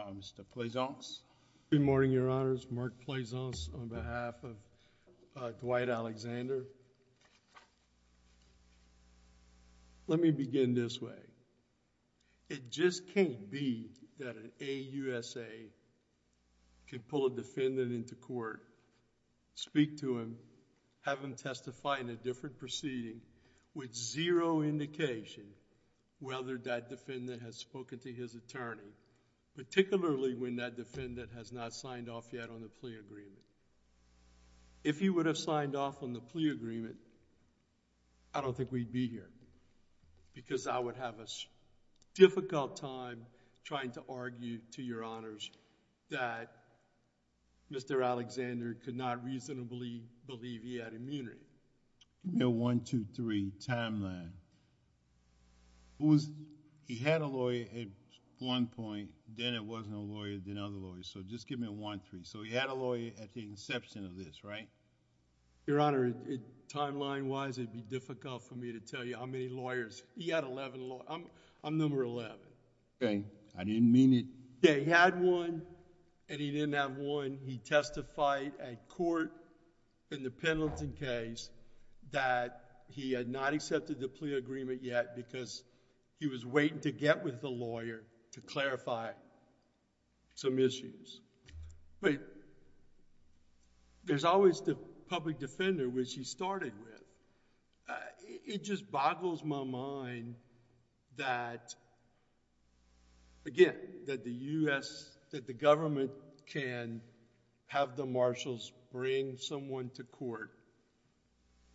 on behalf of Dwight Alexander. Let me begin this way. It just can't be that an AUSA can pull a defendant into court, speak to him, have him testify in a different proceeding with zero indication whether that defendant has spoken to his attorney, particularly when that defendant has not signed off yet on the plea agreement. If he would have signed off on the plea agreement, I don't think we'd be here because I would have a difficult time trying to argue to your honors that Mr. Alexander could not reasonably believe he had immunity. Give me a 1, 2, 3 timeline. He had a lawyer at one point, then it wasn't a lawyer, then another lawyer. So just give me a 1, 3. So he had a lawyer at the inception of this, right? Your Honor, timeline-wise, it would be difficult for me to tell you how many lawyers. He had 11 lawyers. I'm number 11. Okay. I didn't mean it. He had one and he didn't have one. He testified at court in the Pendleton case that he had not accepted the plea agreement yet because he was waiting to get with the lawyer to clarify some issues. There's always the public defender which he started with. It just boggles my mind that, again, that the government can have the marshals bring someone to court,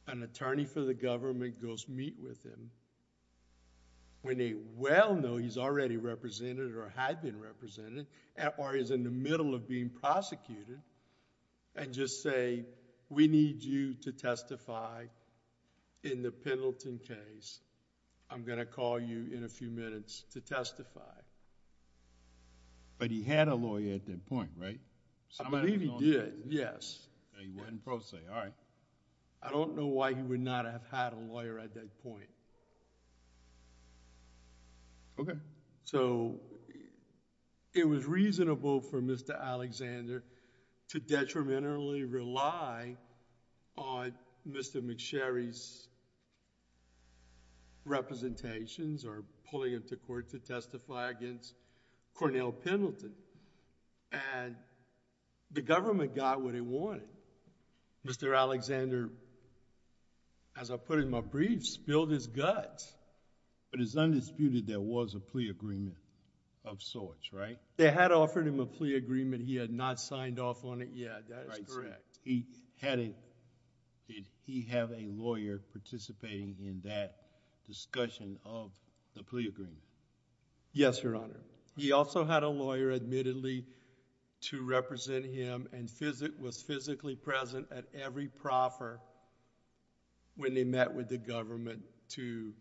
an attorney for the government goes meet with him when they well know he's already represented or had been represented, or he's in the middle of being prosecuted, and just say, we need you to testify in the Pendleton case. I'm going to call you in a few minutes to testify. But he had a lawyer at that point, right? I believe he did, yes. He went in pro se, all right. I don't know why he would not have had a lawyer at that point. Okay. It was reasonable for Mr. Alexander to detrimentally rely on Mr. McSherry's representations or pulling him to court to testify against Cornell Pendleton. The government got what it wanted. Mr. Alexander, as I put in my brief, spilled his guts. But it's undisputed there was a plea agreement of sorts, right? They had offered him a plea agreement. He had not signed off on it yet. That is correct. Did he have a lawyer participating in that discussion of the plea agreement? Yes, Your Honor. He also had a lawyer admittedly to represent him and was physically present at every proffer when they met with the government to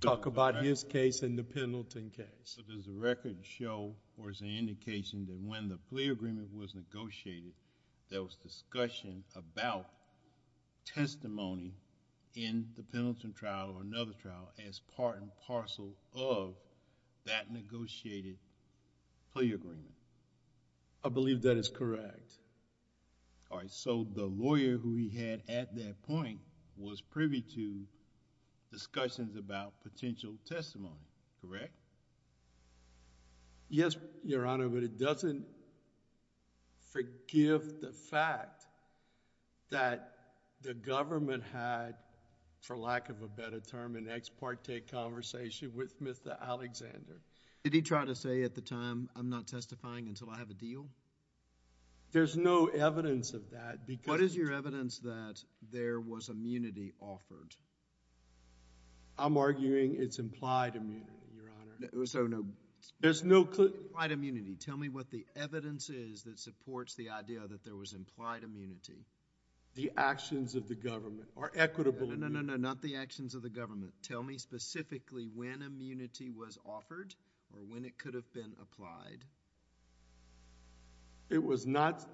talk about his case and the Pendleton case. Does the record show or is there an indication that when the plea agreement was negotiated, there was discussion about testimony in the Pendleton trial or another trial as part and parcel of that negotiated plea agreement? I believe that is correct. All right. So the lawyer who he had at that point was privy to discussions about potential testimony, correct? Yes, Your Honor, but it doesn't forgive the fact that the government had, for lack of a better term, an ex parte conversation with Mr. Alexander. Did he try to say at the time, I'm not testifying until I have a deal? There's no evidence of that because... What is your evidence that there was immunity offered? I'm arguing it's implied immunity, Your Honor. So no... There's no... Implied immunity. Tell me what the evidence is that supports the idea that there was implied immunity. The actions of the government or equitable... or when it could have been applied.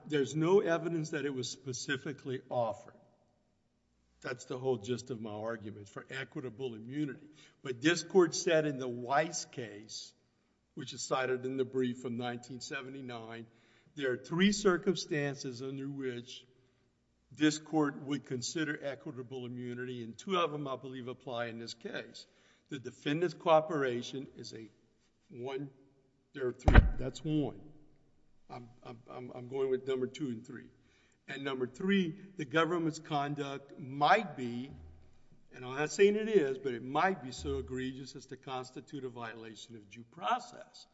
There's no evidence that it was specifically offered. That's the whole gist of my argument for equitable immunity. But this court said in the Weiss case, which is cited in the brief from 1979, there are three circumstances under which this court would consider equitable immunity and two of them, I believe, apply in this case. The defendant's cooperation is a one... there are three. That's one. I'm going with number two and three. And number three, the government's conduct might be, and I'm not saying it is, but it might be so egregious as to constitute a violation of due process.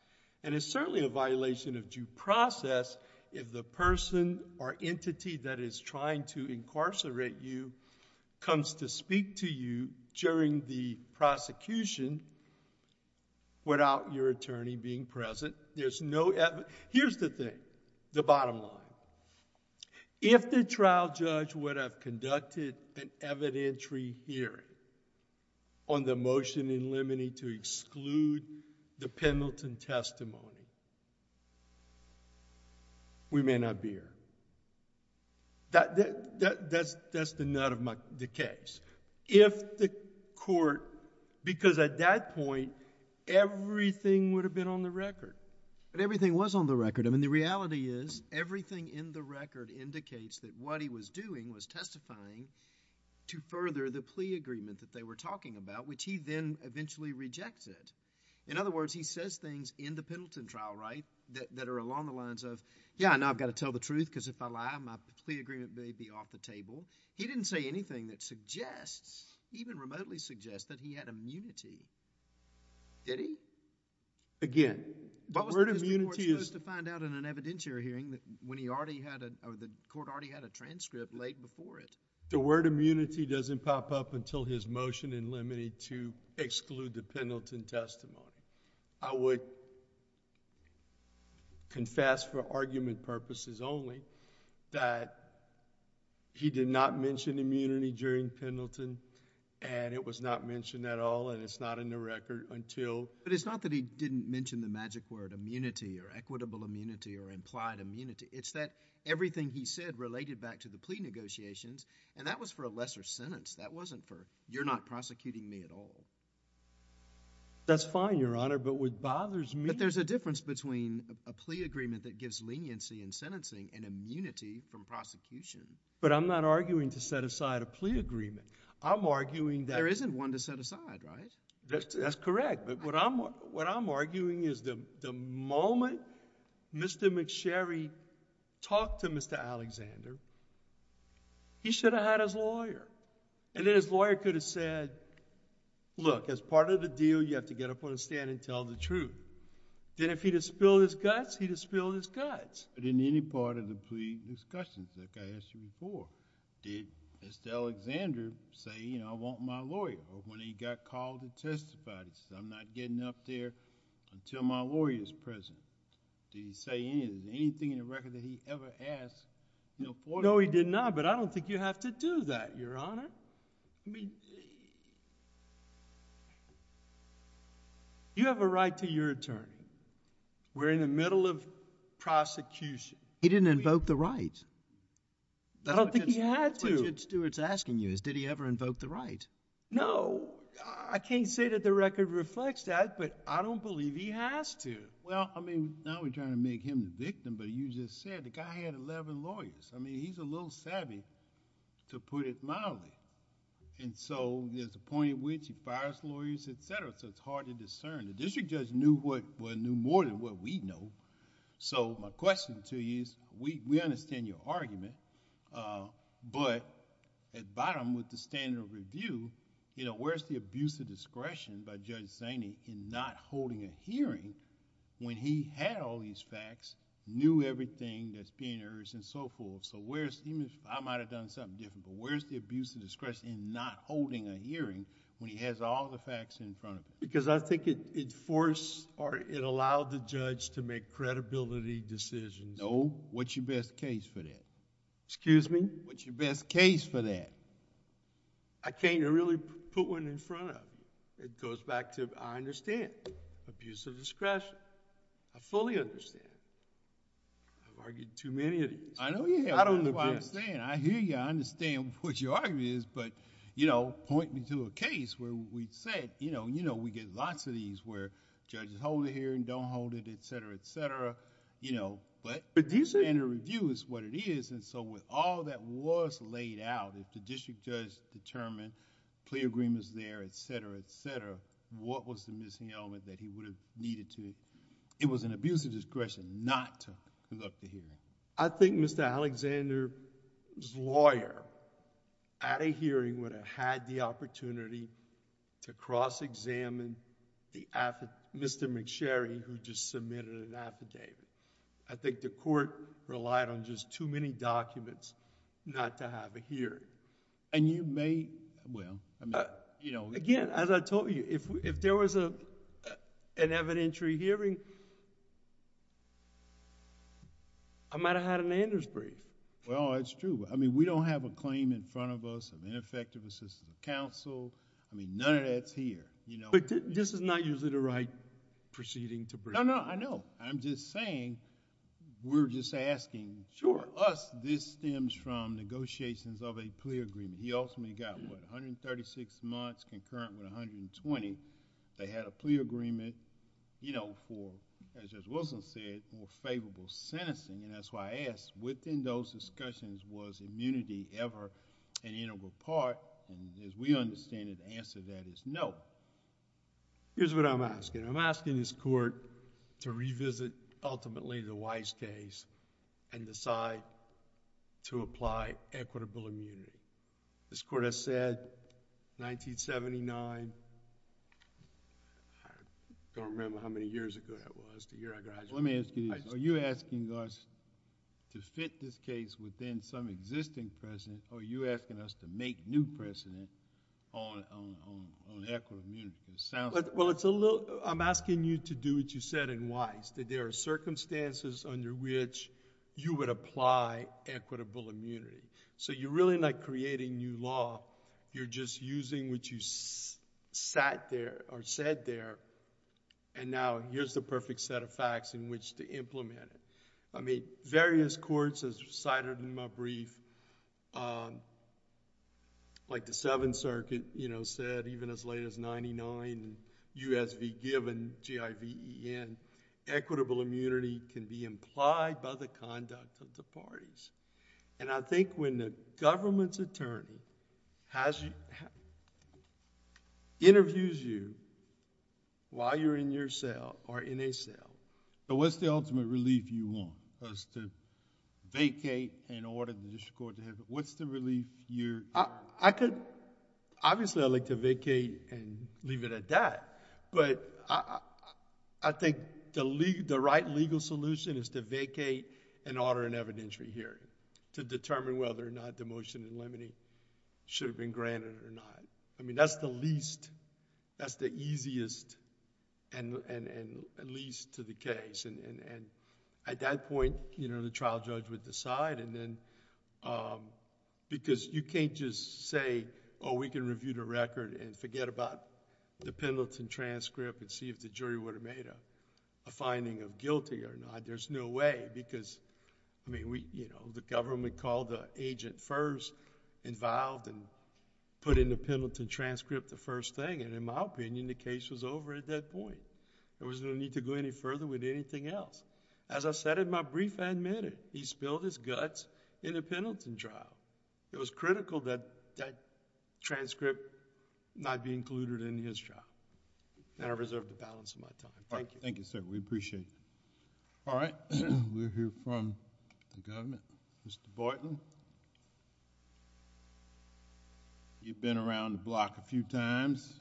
And it's certainly a violation of due process if the person or entity that is trying to incarcerate you comes to speak to you during the prosecution without your attorney being present. There's no evidence... Here's the thing, the bottom line. If the trial judge would have conducted an evidentiary hearing on the motion in limine to exclude the Pendleton testimony, we may not be here. That's the nut of the case. If the court... because at that point, everything would have been on the record. But everything was on the record. I mean, the reality is everything in the record indicates that what he was doing was testifying to further the plea agreement that they were talking about, which he then eventually rejected. In other words, he says things in the Pendleton trial that are along the lines of, yeah, I know I've got to tell the truth because if I lie, my plea agreement may be off the table. He didn't say anything that suggests, even remotely suggests, that he had immunity. Did he? Again, the word immunity is... What was his report supposed to find out in an evidentiary hearing when the court already had a transcript laid before it? The word immunity doesn't pop up until his motion in limine to exclude the Pendleton testimony. I would confess for argument purposes only that he did not mention immunity during Pendleton, and it was not mentioned at all, and it's not in the record until... But it's not that he didn't mention the magic word immunity or equitable immunity or implied immunity. It's that everything he said related back to the plea negotiations, and that was for a lesser sentence. That wasn't for, you're not prosecuting me at all. That's fine, Your Honor, but what bothers me... But there's a difference between a plea agreement that gives leniency in sentencing and immunity from prosecution. But I'm not arguing to set aside a plea agreement. I'm arguing that... There isn't one to set aside, right? That's correct, but what I'm arguing is the moment Mr. McSherry talked to Mr. Alexander, he should have had his lawyer, and then his lawyer could have said, look, as part of the deal, you have to get up on the stand and tell the truth. Then if he'd have spilled his guts, he'd have spilled his guts. But in any part of the plea discussions, like I asked you before, did Mr. Alexander say, you know, I want my lawyer? Or when he got called to testify, did he say, I'm not getting up there until my lawyer is present? Did he say anything in the record that he ever asked for? No, he did not, but I don't think you have to do that, Your Honor. I mean... You have a right to your attorney. We're in the middle of prosecution. He didn't invoke the right. I don't think he had to. That's what Judge Stewart's asking you is, did he ever invoke the right? No. I can't say that the record reflects that, but I don't believe he has to. Well, I mean, now we're trying to make him the victim, but you just said the guy had eleven lawyers. I mean, he's a little savvy, to put it mildly. There's a point at which he fires lawyers, et cetera, so it's hard to discern. The district judge knew more than what we know. My question to you is, we understand your argument, but at bottom with the standard of review, where's the abuse of discretion by Judge Zaney in not holding a hearing when he had all these facts, knew everything that's being heard and so forth? I might have done something different, but where's the abuse of discretion in not holding a hearing when he has all the facts in front of him? Because I think it forced or it allowed the judge to make credibility decisions. No. What's your best case for that? Excuse me? What's your best case for that? I can't really put one in front of you. It goes back to, I understand, abuse of discretion. I fully understand. I've argued too many of these. I know you have. I don't know who I'm saying. I hear you. I understand what your argument is, but point me to a case where we said, you know, we get lots of these where judges hold a hearing, don't hold it, et cetera, et cetera, but standard of review is what it is. With all that was laid out, if the district judge determined clear agreements there, et cetera, et cetera, what was the missing element that he would have needed to... It was an abuse of discretion not to conduct the hearing. I think Mr. Alexander's lawyer at a hearing would have had the opportunity to cross-examine Mr. McSherry who just submitted an affidavit. I think the court relied on just too many documents not to have a hearing. You may... Again, as I told you, if there was an evidentiary hearing, I might have had an Anders brief. Well, it's true. We don't have a claim in front of us of ineffective assistance of counsel. None of that's here. This is not usually the right proceeding to bring. No, no. I know. I'm just saying, we're just asking. Sure. Us, this stems from negotiations of a plea agreement. He ultimately got, what, 136 months concurrent with 120. They had a plea agreement for, as Justice Wilson said, more favorable sentencing. That's why I asked, within those discussions, was immunity ever an integral part? As we understand it, the answer to that is no. Here's what I'm asking. I'm asking this court to revisit ultimately the Weiss case and decide to apply equitable immunity. This court has said, 1979, I don't remember how many years ago that was, the year I graduated. Let me ask you this. Are you asking us to fit this case within some existing precedent, or are you asking us to make new precedent on equitable immunity? Well, I'm asking you to do what you said in Weiss, that there are circumstances under which you would apply equitable immunity. So you're really not creating new law. You're just using what you sat there, or said there, and now here's the perfect set of facts in which to implement it. Various courts, as cited in my brief, like the Seventh Circuit said, even as late as 1999, U.S.V. given, G-I-V-E-N, equitable immunity can be implied by the conduct of the parties. I think when the government's attorney interviews you while you're in your cell or in a cell... What's the ultimate relief you want? For us to vacate and order the district court to have... What's the relief you're... Obviously, I'd like to vacate and leave it at that, but I think the right legal solution is to vacate and order an evidentiary hearing to determine whether or not the motion in Lemony should have been granted or not. I mean, that's the least... That's the easiest and least to the case. At that point, the trial judge would decide, and then, because you can't just say, oh, we can review the record and forget about the Pendleton transcript and see if the jury would have made a finding of guilty or not. There's no way, because the government called the agent first involved and put in the Pendleton transcript the first thing, and in my opinion, the case was over at that point. There was no need to go any further with anything else. As I said in my brief, I admit it. He spilled his guts in the Pendleton trial. It was critical that that transcript not be included in his trial, and I reserve the balance of my time. Thank you. Thank you, sir. We appreciate it. All right. We'll hear from the government. Mr. Boynton, you've been around the block a few times.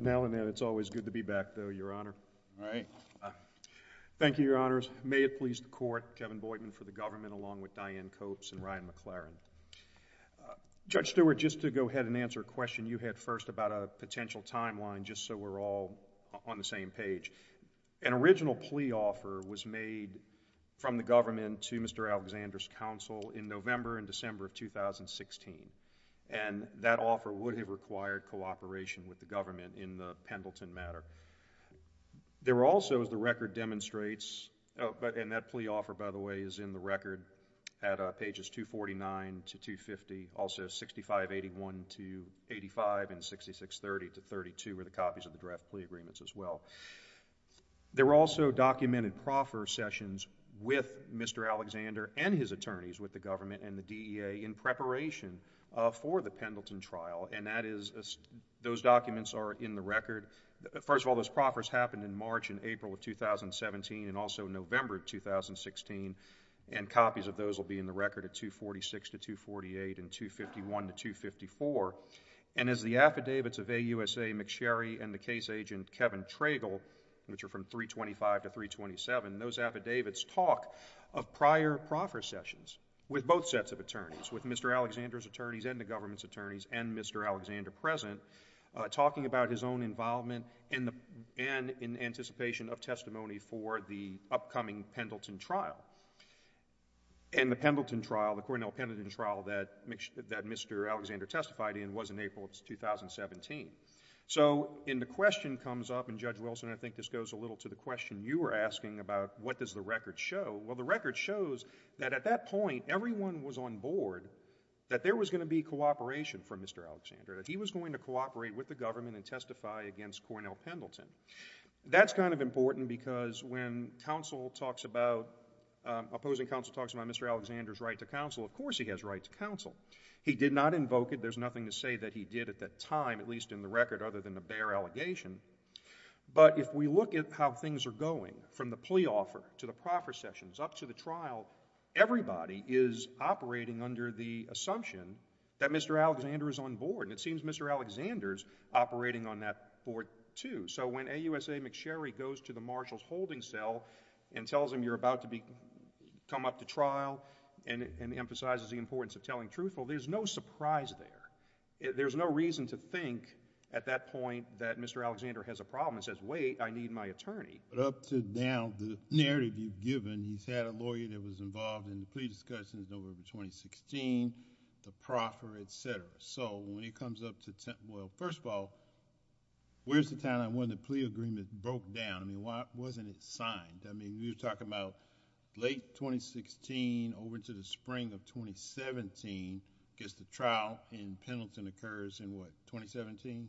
Now and then, it's always good to be back, though, Your Honor. Right. Thank you, Your Honors. May it please the Court, Kevin Boynton for the government, along with Diane Copes and Ryan McLaren. Judge Stewart, just to go ahead and answer a question you had first about a potential timeline, just so we're all on the same page. An original plea offer was made from the government to Mr. Alexander's counsel in November and December of 2016, and that offer would have required cooperation with the government in the Pendleton matter. There were also, as the record demonstrates, and that plea offer, by the way, is in the record at pages 249 to 250, also 6581 to 85, and 6630 to 32 were the copies of the draft plea agreements as well. There were also documented proffer sessions with Mr. Alexander and his attorneys with the government and the DEA in preparation for the Pendleton trial, and those documents are in the record. First of all, those proffers happened in March and April of 2017 and also November of 2016, and copies of those will be in the record at 246 to 248 and 251 to 254, and as the affidavits of AUSA McSherry and the case agent Kevin Tragel, which are from 325 to 327, those affidavits talk of prior proffer sessions with both sets of attorneys, with Mr. Alexander's attorneys and the government's attorneys and Mr. Alexander present, talking about his own involvement and in anticipation of testimony for the upcoming Pendleton trial, and the Pendleton trial, the Cornell Pendleton trial that Mr. Alexander testified in was in April of 2017. So the question comes up, and Judge Wilson, I think this goes a little to the question you were asking about what does the record show. Well, the record shows that at that point everyone was on board that there was going to be cooperation from Mr. Alexander, that he was going to cooperate with the government and testify against Cornell Pendleton. That's kind of important because when opposing counsel talks about Mr. Alexander's right to counsel, of course he has right to counsel. He did not invoke it. There's nothing to say that he did at that time, at least in the record, other than a bare allegation, but if we look at how things are going from the plea offer to the proffer sessions up to the trial, everybody is operating under the assumption that Mr. Alexander is on board, and it seems Mr. Alexander is operating on that board too. So when AUSA McSherry goes to the marshal's holding cell and tells him you're about to come up to trial and emphasizes the importance of telling truthfully, there's no surprise there. There's no reason to think at that point that Mr. Alexander has a problem and says, wait, I need my attorney. But up to now, the narrative you've given, he's had a lawyer that was involved in the plea discussions over 2016, the proffer, et cetera. So when he comes up to, well, first of all, where's the timeline when the plea agreement broke down? I mean, wasn't it signed? I mean, you're talking about late 2016 over to the spring of 2017 against the trial in Pendleton occurs in what, 2017?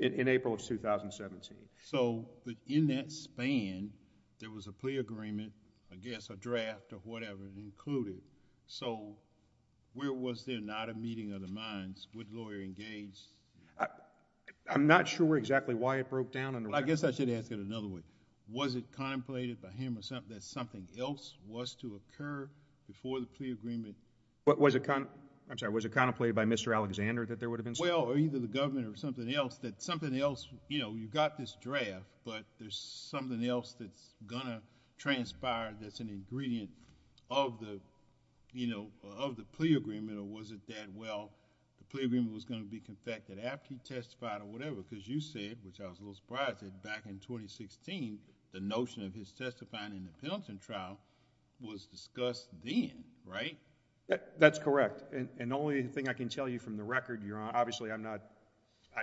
In April of 2017. So in that span, there was a plea agreement, I guess a draft or whatever included. So where was there not a meeting of the minds? Was the lawyer engaged? I'm not sure exactly why it broke down. I guess I should ask it another way. Was it contemplated by him that something else was to occur before the plea agreement? Was it contemplated by Mr. Alexander that there would have been something? Well, either the government or something else, that something else, you know, you've got this draft, but there's something else that's going to transpire that's an ingredient of the, you know, of the plea agreement. Or was it that, well, the plea agreement was going to be confected after he testified or whatever? Because you said, which I was a little surprised that back in 2016, the notion of his testifying in the Pendleton trial was discussed then, right? That's correct. And the only thing I can tell you from the record, Your Honor, obviously I'm not,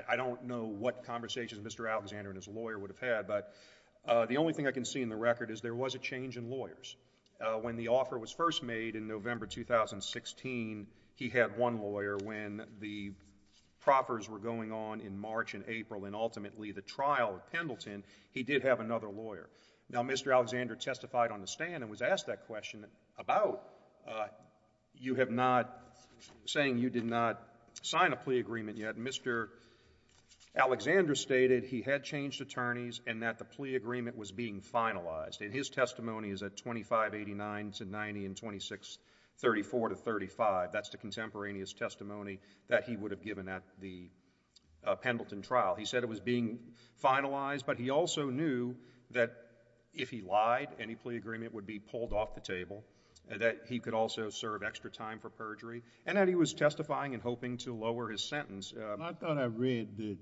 I don't know what conversations Mr. Alexander and his lawyer would have had, but the only thing I can see in the record is there was a change in lawyers. When the offer was first made in November 2016, he had one lawyer when the proffers were going on in March and April and ultimately the trial of Pendleton, he did have another lawyer. Now, Mr. Alexander testified on the stand and was asked that question about you have not, saying you did not sign a plea agreement yet. And Mr. Alexander stated he had changed attorneys and that the plea agreement was being finalized. And his testimony is at 2589 to 90 and 2634 to 35. That's the contemporaneous testimony that he would have given at the Pendleton trial. He said it was being finalized, but he also knew that if he lied, any plea agreement would be pulled off the table, that he could also serve extra time for perjury, and that he was testifying and hoping to lower his sentence. I thought I read that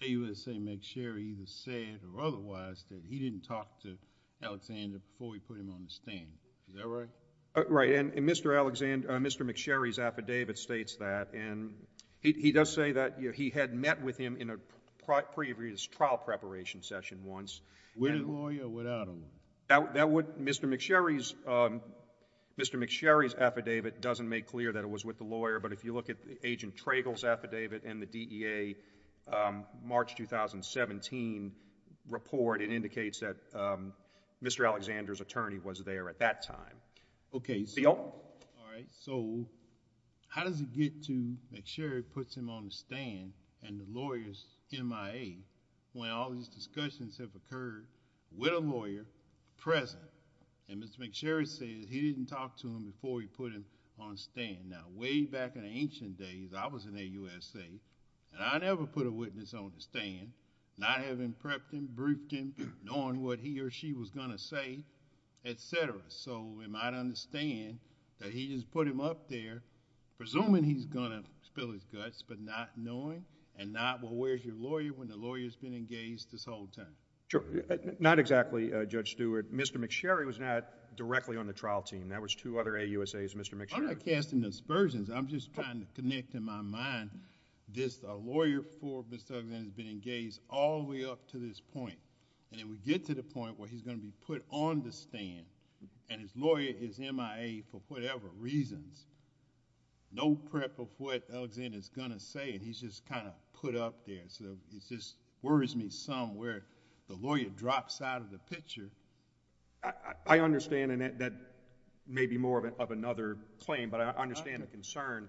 he would say McSherry either said or otherwise that he didn't talk to Alexander before he put him on the stand. Is that right? Right, and Mr. McSherry's affidavit states that, and he does say that he had met with him in a previous trial preparation session once. With a lawyer or without a lawyer? Mr. McSherry's affidavit doesn't make clear that it was with the lawyer, but if you look at Agent Tragel's affidavit and the DEA March 2017 report, it indicates that Mr. Alexander's attorney was there at that time. Okay, so how does it get to McSherry puts him on the stand and the lawyer's MIA when all these discussions have occurred with a lawyer present? And Mr. McSherry says he didn't talk to him before he put him on the stand. Now, way back in ancient days, I was in the USA, and I never put a witness on the stand, not having prepped him, briefed him, knowing what he or she was going to say, et cetera. So we might understand that he just put him up there, presuming he's going to spill his guts, but not knowing, and not, well, where's your lawyer when the lawyer's been engaged this whole time? Sure. Not exactly, Judge Stewart. Mr. McSherry was not directly on the trial team. That was two other AUSAs, Mr. McSherry. I'm not casting aspersions. I'm just trying to connect in my mind this lawyer for Mr. Alexander has been engaged all the way up to this point, and then we get to the point where he's going to be put on the stand and his lawyer is MIA for whatever reasons. No prep of what Alexander's going to say, and he's just kind of put up there. So it just worries me some where the lawyer drops out of the picture. I understand, and that may be more of another claim, but I understand the concern.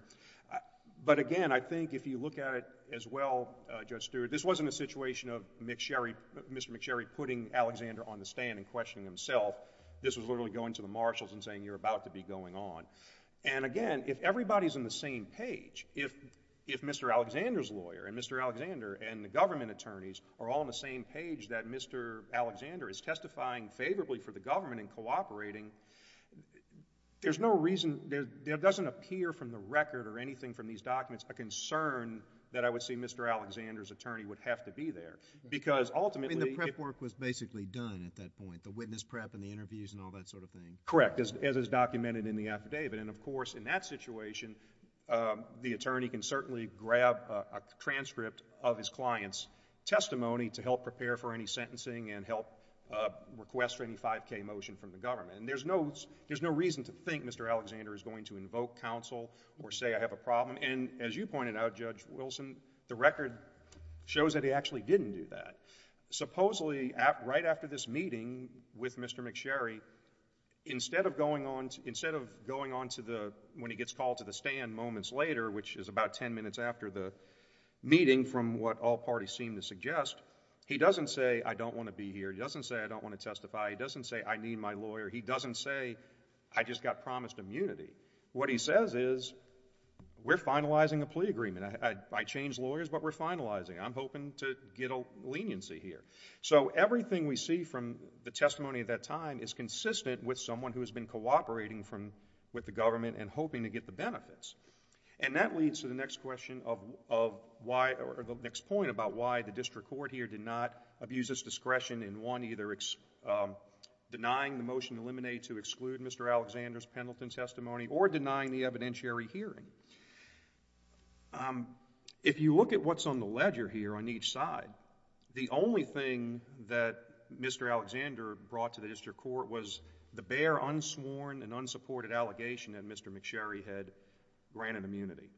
But again, I think if you look at it as well, Judge Stewart, this wasn't a situation of Mr. McSherry putting Alexander on the stand and questioning himself. This was literally going to the marshals and saying you're about to be going on. And again, if everybody's on the same page, if Mr. Alexander's lawyer and Mr. Alexander and the government attorneys are all on the same page that Mr. Alexander is testifying favorably for the government and cooperating, there's no reason, it doesn't appear from the record or anything from these documents a concern that I would say Mr. Alexander's attorney would have to be there because ultimately... I mean the prep work was basically done at that point, the witness prep and the interviews and all that sort of thing. Correct, as is documented in the affidavit. And of course in that situation, the attorney can certainly grab a transcript of his client's testimony to help prepare for any sentencing and help request any 5K motion from the government. And there's no reason to think Mr. Alexander is going to invoke counsel or say I have a problem. And as you pointed out, Judge Wilson, the record shows that he actually didn't do that. Supposedly right after this meeting with Mr. McSherry, instead of going on to the... when he gets called to the stand moments later, which is about 10 minutes after the meeting from what all parties seem to suggest, he doesn't say I don't want to be here. He doesn't say I don't want to testify. He doesn't say I need my lawyer. He doesn't say I just got promised immunity. What he says is we're finalizing a plea agreement. I changed lawyers, but we're finalizing. I'm hoping to get a leniency here. So everything we see from the testimony at that time is consistent with someone who has been cooperating with the government and hoping to get the benefits. And that leads to the next question of why... or the next point about why the district court here did not abuse its discretion in one, either denying the motion to eliminate to exclude Mr. Alexander's or denying the evidentiary hearing. If you look at what's on the ledger here on each side, the only thing that Mr. Alexander brought to the district court was the bare, unsworn, and unsupported allegation that Mr. McSherry had granted immunity.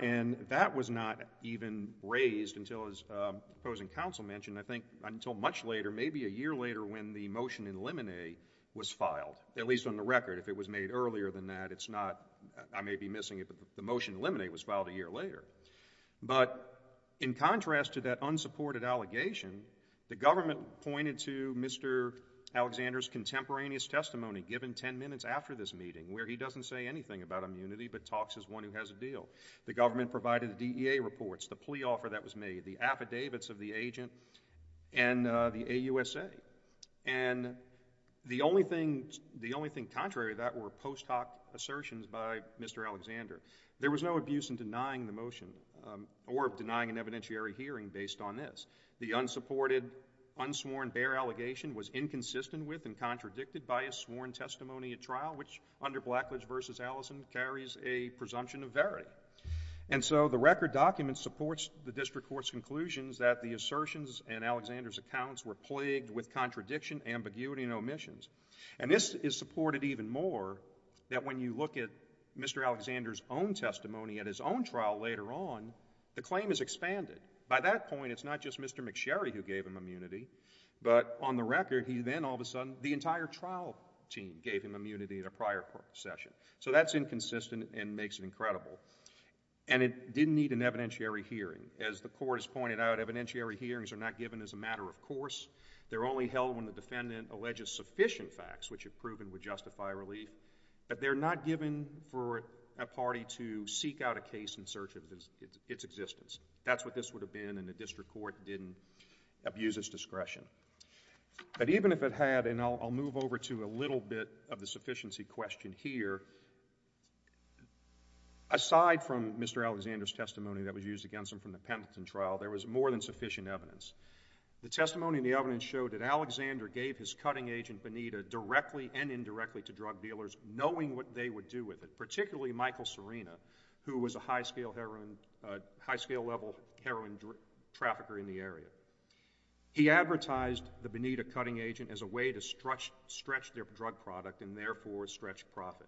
And that was not even raised until his opposing counsel mentioned, I think, until much later, maybe a year later when the motion to eliminate was filed, at least on the record. If it was made earlier than that, it's not... I may be missing it, but the motion to eliminate was filed a year later. But in contrast to that unsupported allegation, the government pointed to Mr. Alexander's contemporaneous testimony given ten minutes after this meeting, where he doesn't say anything about immunity but talks as one who has a deal. The government provided the DEA reports, the plea offer that was made, the affidavits of the agent, and the AUSA. And the only thing contrary to that were post hoc assertions by Mr. Alexander. There was no abuse in denying the motion or denying an evidentiary hearing based on this. The unsupported, unsworn, bare allegation was inconsistent with and contradicted by a sworn testimony at trial, which under Blackledge v. Allison carries a presumption of verity. And so the record document supports the district court's conclusions that the assertions in Alexander's accounts were plagued with contradiction, ambiguity, and omissions. And this is supported even more that when you look at Mr. Alexander's own testimony at his own trial later on, the claim is expanded. By that point, it's not just Mr. McSherry who gave him immunity, but on the record, he then all of a sudden... the entire trial team gave him immunity in a prior court session. So that's inconsistent and makes it incredible. And it didn't need an evidentiary hearing. As the court has pointed out, evidentiary hearings are not given as a matter of course. They're only held when the defendant alleges sufficient facts, which if proven, would justify relief. But they're not given for a party to seek out a case in search of its existence. That's what this would have been if the district court didn't abuse its discretion. But even if it had, and I'll move over to a little bit of the sufficiency question here, aside from Mr. Alexander's testimony that was used against him from the Pendleton trial, there was more than sufficient evidence. The testimony and the evidence showed that Alexander gave his cutting agent, Benita, directly and indirectly to drug dealers, knowing what they would do with it, particularly Michael Serena, who was a high-scale level heroin trafficker in the area. He advertised the Benita cutting agent as a way to stretch their drug product and therefore stretch profit.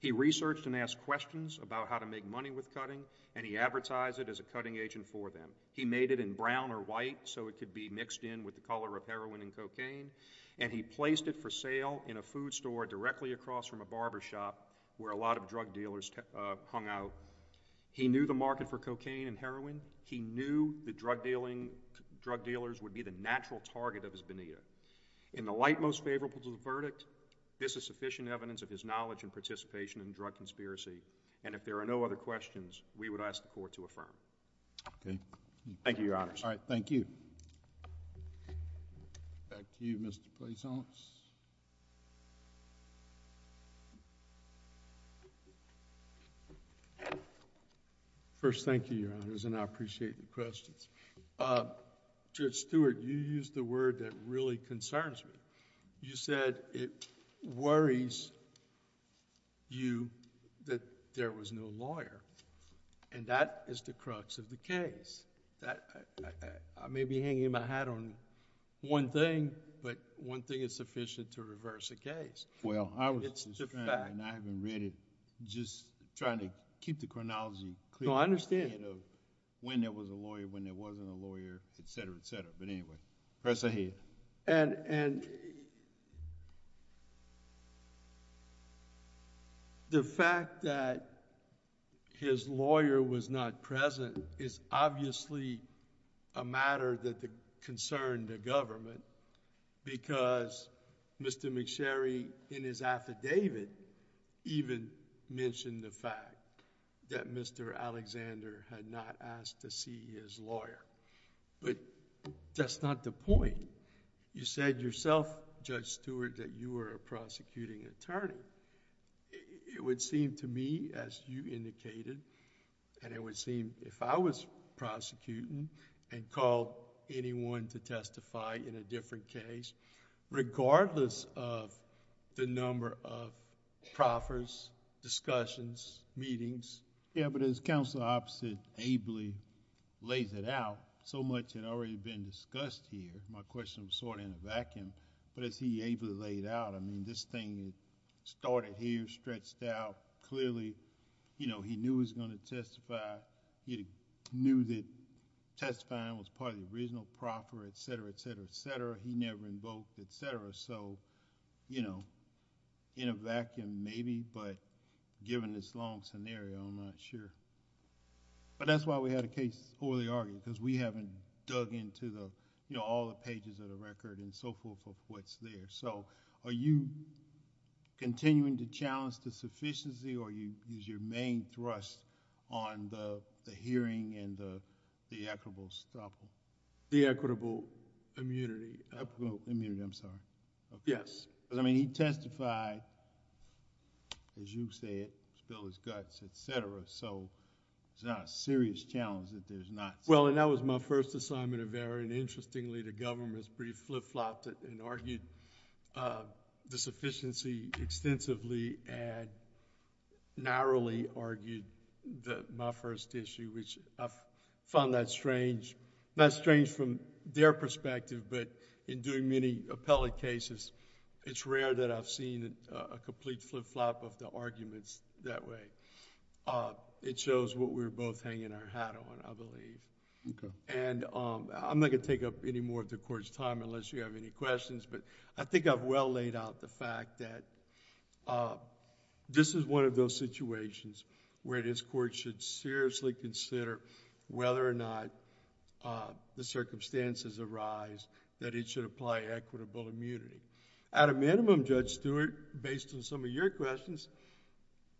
He researched and asked questions about how to make money with cutting, and he advertised it as a cutting agent for them. He made it in brown or white so it could be mixed in with the color of heroin and cocaine, and he placed it for sale in a food store directly across from a barber shop where a lot of drug dealers hung out. He knew the market for cocaine and heroin. He knew that drug dealers would be the natural target of his Benita. In the light most favorable to the verdict, this is sufficient evidence of his knowledge and participation in the drug conspiracy, and if there are no other questions, we would ask the Court to affirm. Okay. Thank you, Your Honors. All right, thank you. Back to you, Mr. Plaisance. First, thank you, Your Honors, and I appreciate the questions. Judge Stewart, you used the word that really concerns me. You said it worries you that there was no lawyer, and that is the crux of the case. I may be hanging my hat on one thing, but one thing is sufficient to reverse a case. It's the fact... Well, I was just trying, and I haven't read it, just trying to keep the chronology clear... No, I understand.... when there was a lawyer, when there wasn't a lawyer, et cetera, et cetera, but anyway, press ahead. The fact that his lawyer was not present is obviously a matter that concerned the government because Mr. McSherry in his affidavit even mentioned the fact that Mr. Alexander had not asked to see his lawyer, but that's not the point. You said yourself, Judge Stewart, that you were a prosecuting attorney. It would seem to me as you indicated, and it would seem if I was prosecuting and called anyone to testify in a different case, regardless of the number of proffers, discussions, meetings... Yeah, but as counsel opposite ably lays it out, so much had already been discussed here. My question was sort of in a vacuum, but as he ably laid out, I mean, this thing started here, stretched out. Clearly, he knew he was going to testify. He knew that testifying was part of the original proffer, et cetera, et cetera, et cetera. He never invoked, et cetera, so in a vacuum maybe, but given this long scenario, I'm not sure. That's why we had a case for the argument because we haven't dug into all the pages of the record and so forth of what's there. Are you continuing to challenge the sufficiency or is your main thrust on the hearing and the equitable... The equitable immunity. Equitable immunity, I'm sorry. Yes. I mean, he testified, as you said, spill his guts, et cetera, so it's not a serious challenge that there's not... Well, and that was my first assignment of error and interestingly, the government's pretty flip-flopped it and argued the sufficiency extensively and narrowly argued my first issue, which I found that strange. Strange from their perspective, but in doing many appellate cases, it's rare that I've seen a complete flip-flop of the arguments that way. It shows what we're both hanging our hat on, I believe. Okay. I'm not going to take up any more of the Court's time unless you have any questions, but I think I've well laid out the fact that this is one of those circumstances arise that it should apply equitable immunity. At a minimum, Judge Stewart, based on some of your questions,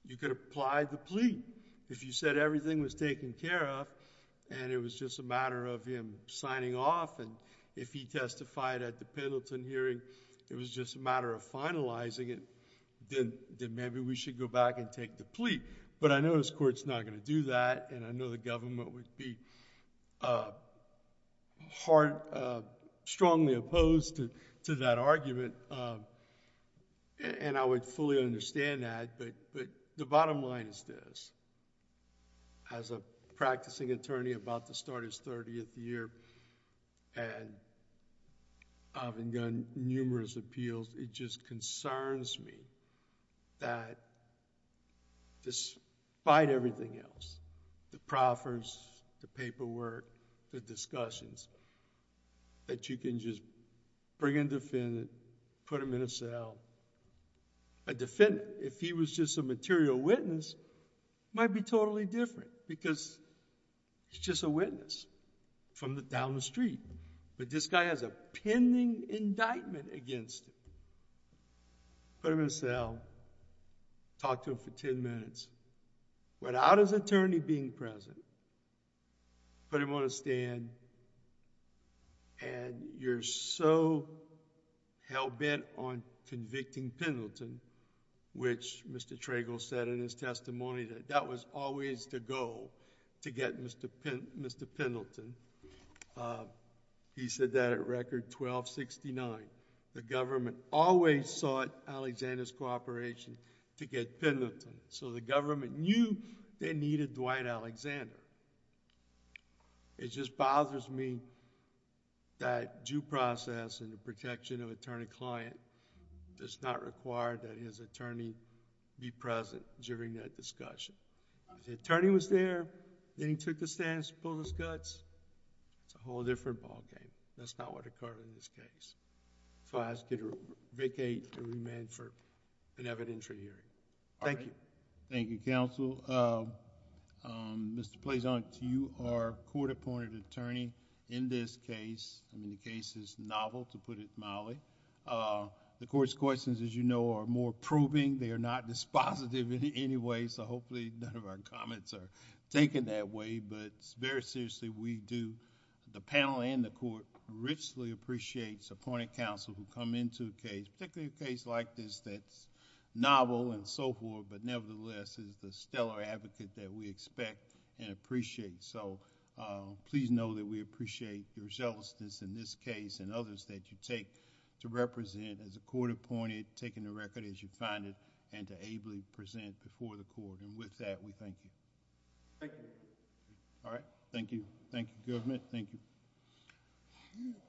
you could apply the plea. If you said everything was taken care of and it was just a matter of him signing off and if he testified at the Pendleton hearing, it was just a matter of finalizing it, then maybe we should go back and take the plea. But I know this Court's not going to do that and I know the government would be strongly opposed to that argument and I would fully understand that, but the bottom line is this. As a practicing attorney about to start his thirtieth year and I've begun numerous appeals, it just concerns me that despite everything else, the proffers, the paperwork, the discussions, that you can just bring in a defendant, put him in a cell. A defendant, if he was just a material witness, might be totally different because he's just a witness from down the street, but this guy has a pending indictment against him. Put him in a cell, talk to him for ten minutes. Without his attorney being present, put him on a stand and you're so hell-bent on convicting Pendleton, which Mr. Trago said in his testimony that that was always the goal to get Mr. Pendleton. He said that at record 1269. The government always sought Alexander's cooperation to get Pendleton. The government knew they needed Dwight Alexander. It just bothers me that due process and the protection of attorney-client does not require that his attorney be present during that discussion. If the attorney was there, then he took the stand and pulled his guts, it's a whole different ballgame. That's not what occurred in this case. I ask you to vacate and remain for an evidentiary hearing. Thank you. Thank you, counsel. Mr. Pleasant, you are a court-appointed attorney in this case. The case is novel, to put it mildly. The court's questions, as you know, are more proving. They are not dispositive in any way. Hopefully, none of our comments are taken that way, but it's very seriously we do. The panel and the court richly appreciates appointed counsel who come into a case, particularly a case like this that's novel and so forth, but nevertheless is the stellar advocate that we expect and appreciate. Please know that we appreciate your zealousness in this case and others that you take to represent as a court-appointed, taking the record as you find it and to ably present before the court. With that, we thank you. Thank you. All right. Thank you. Thank you, government.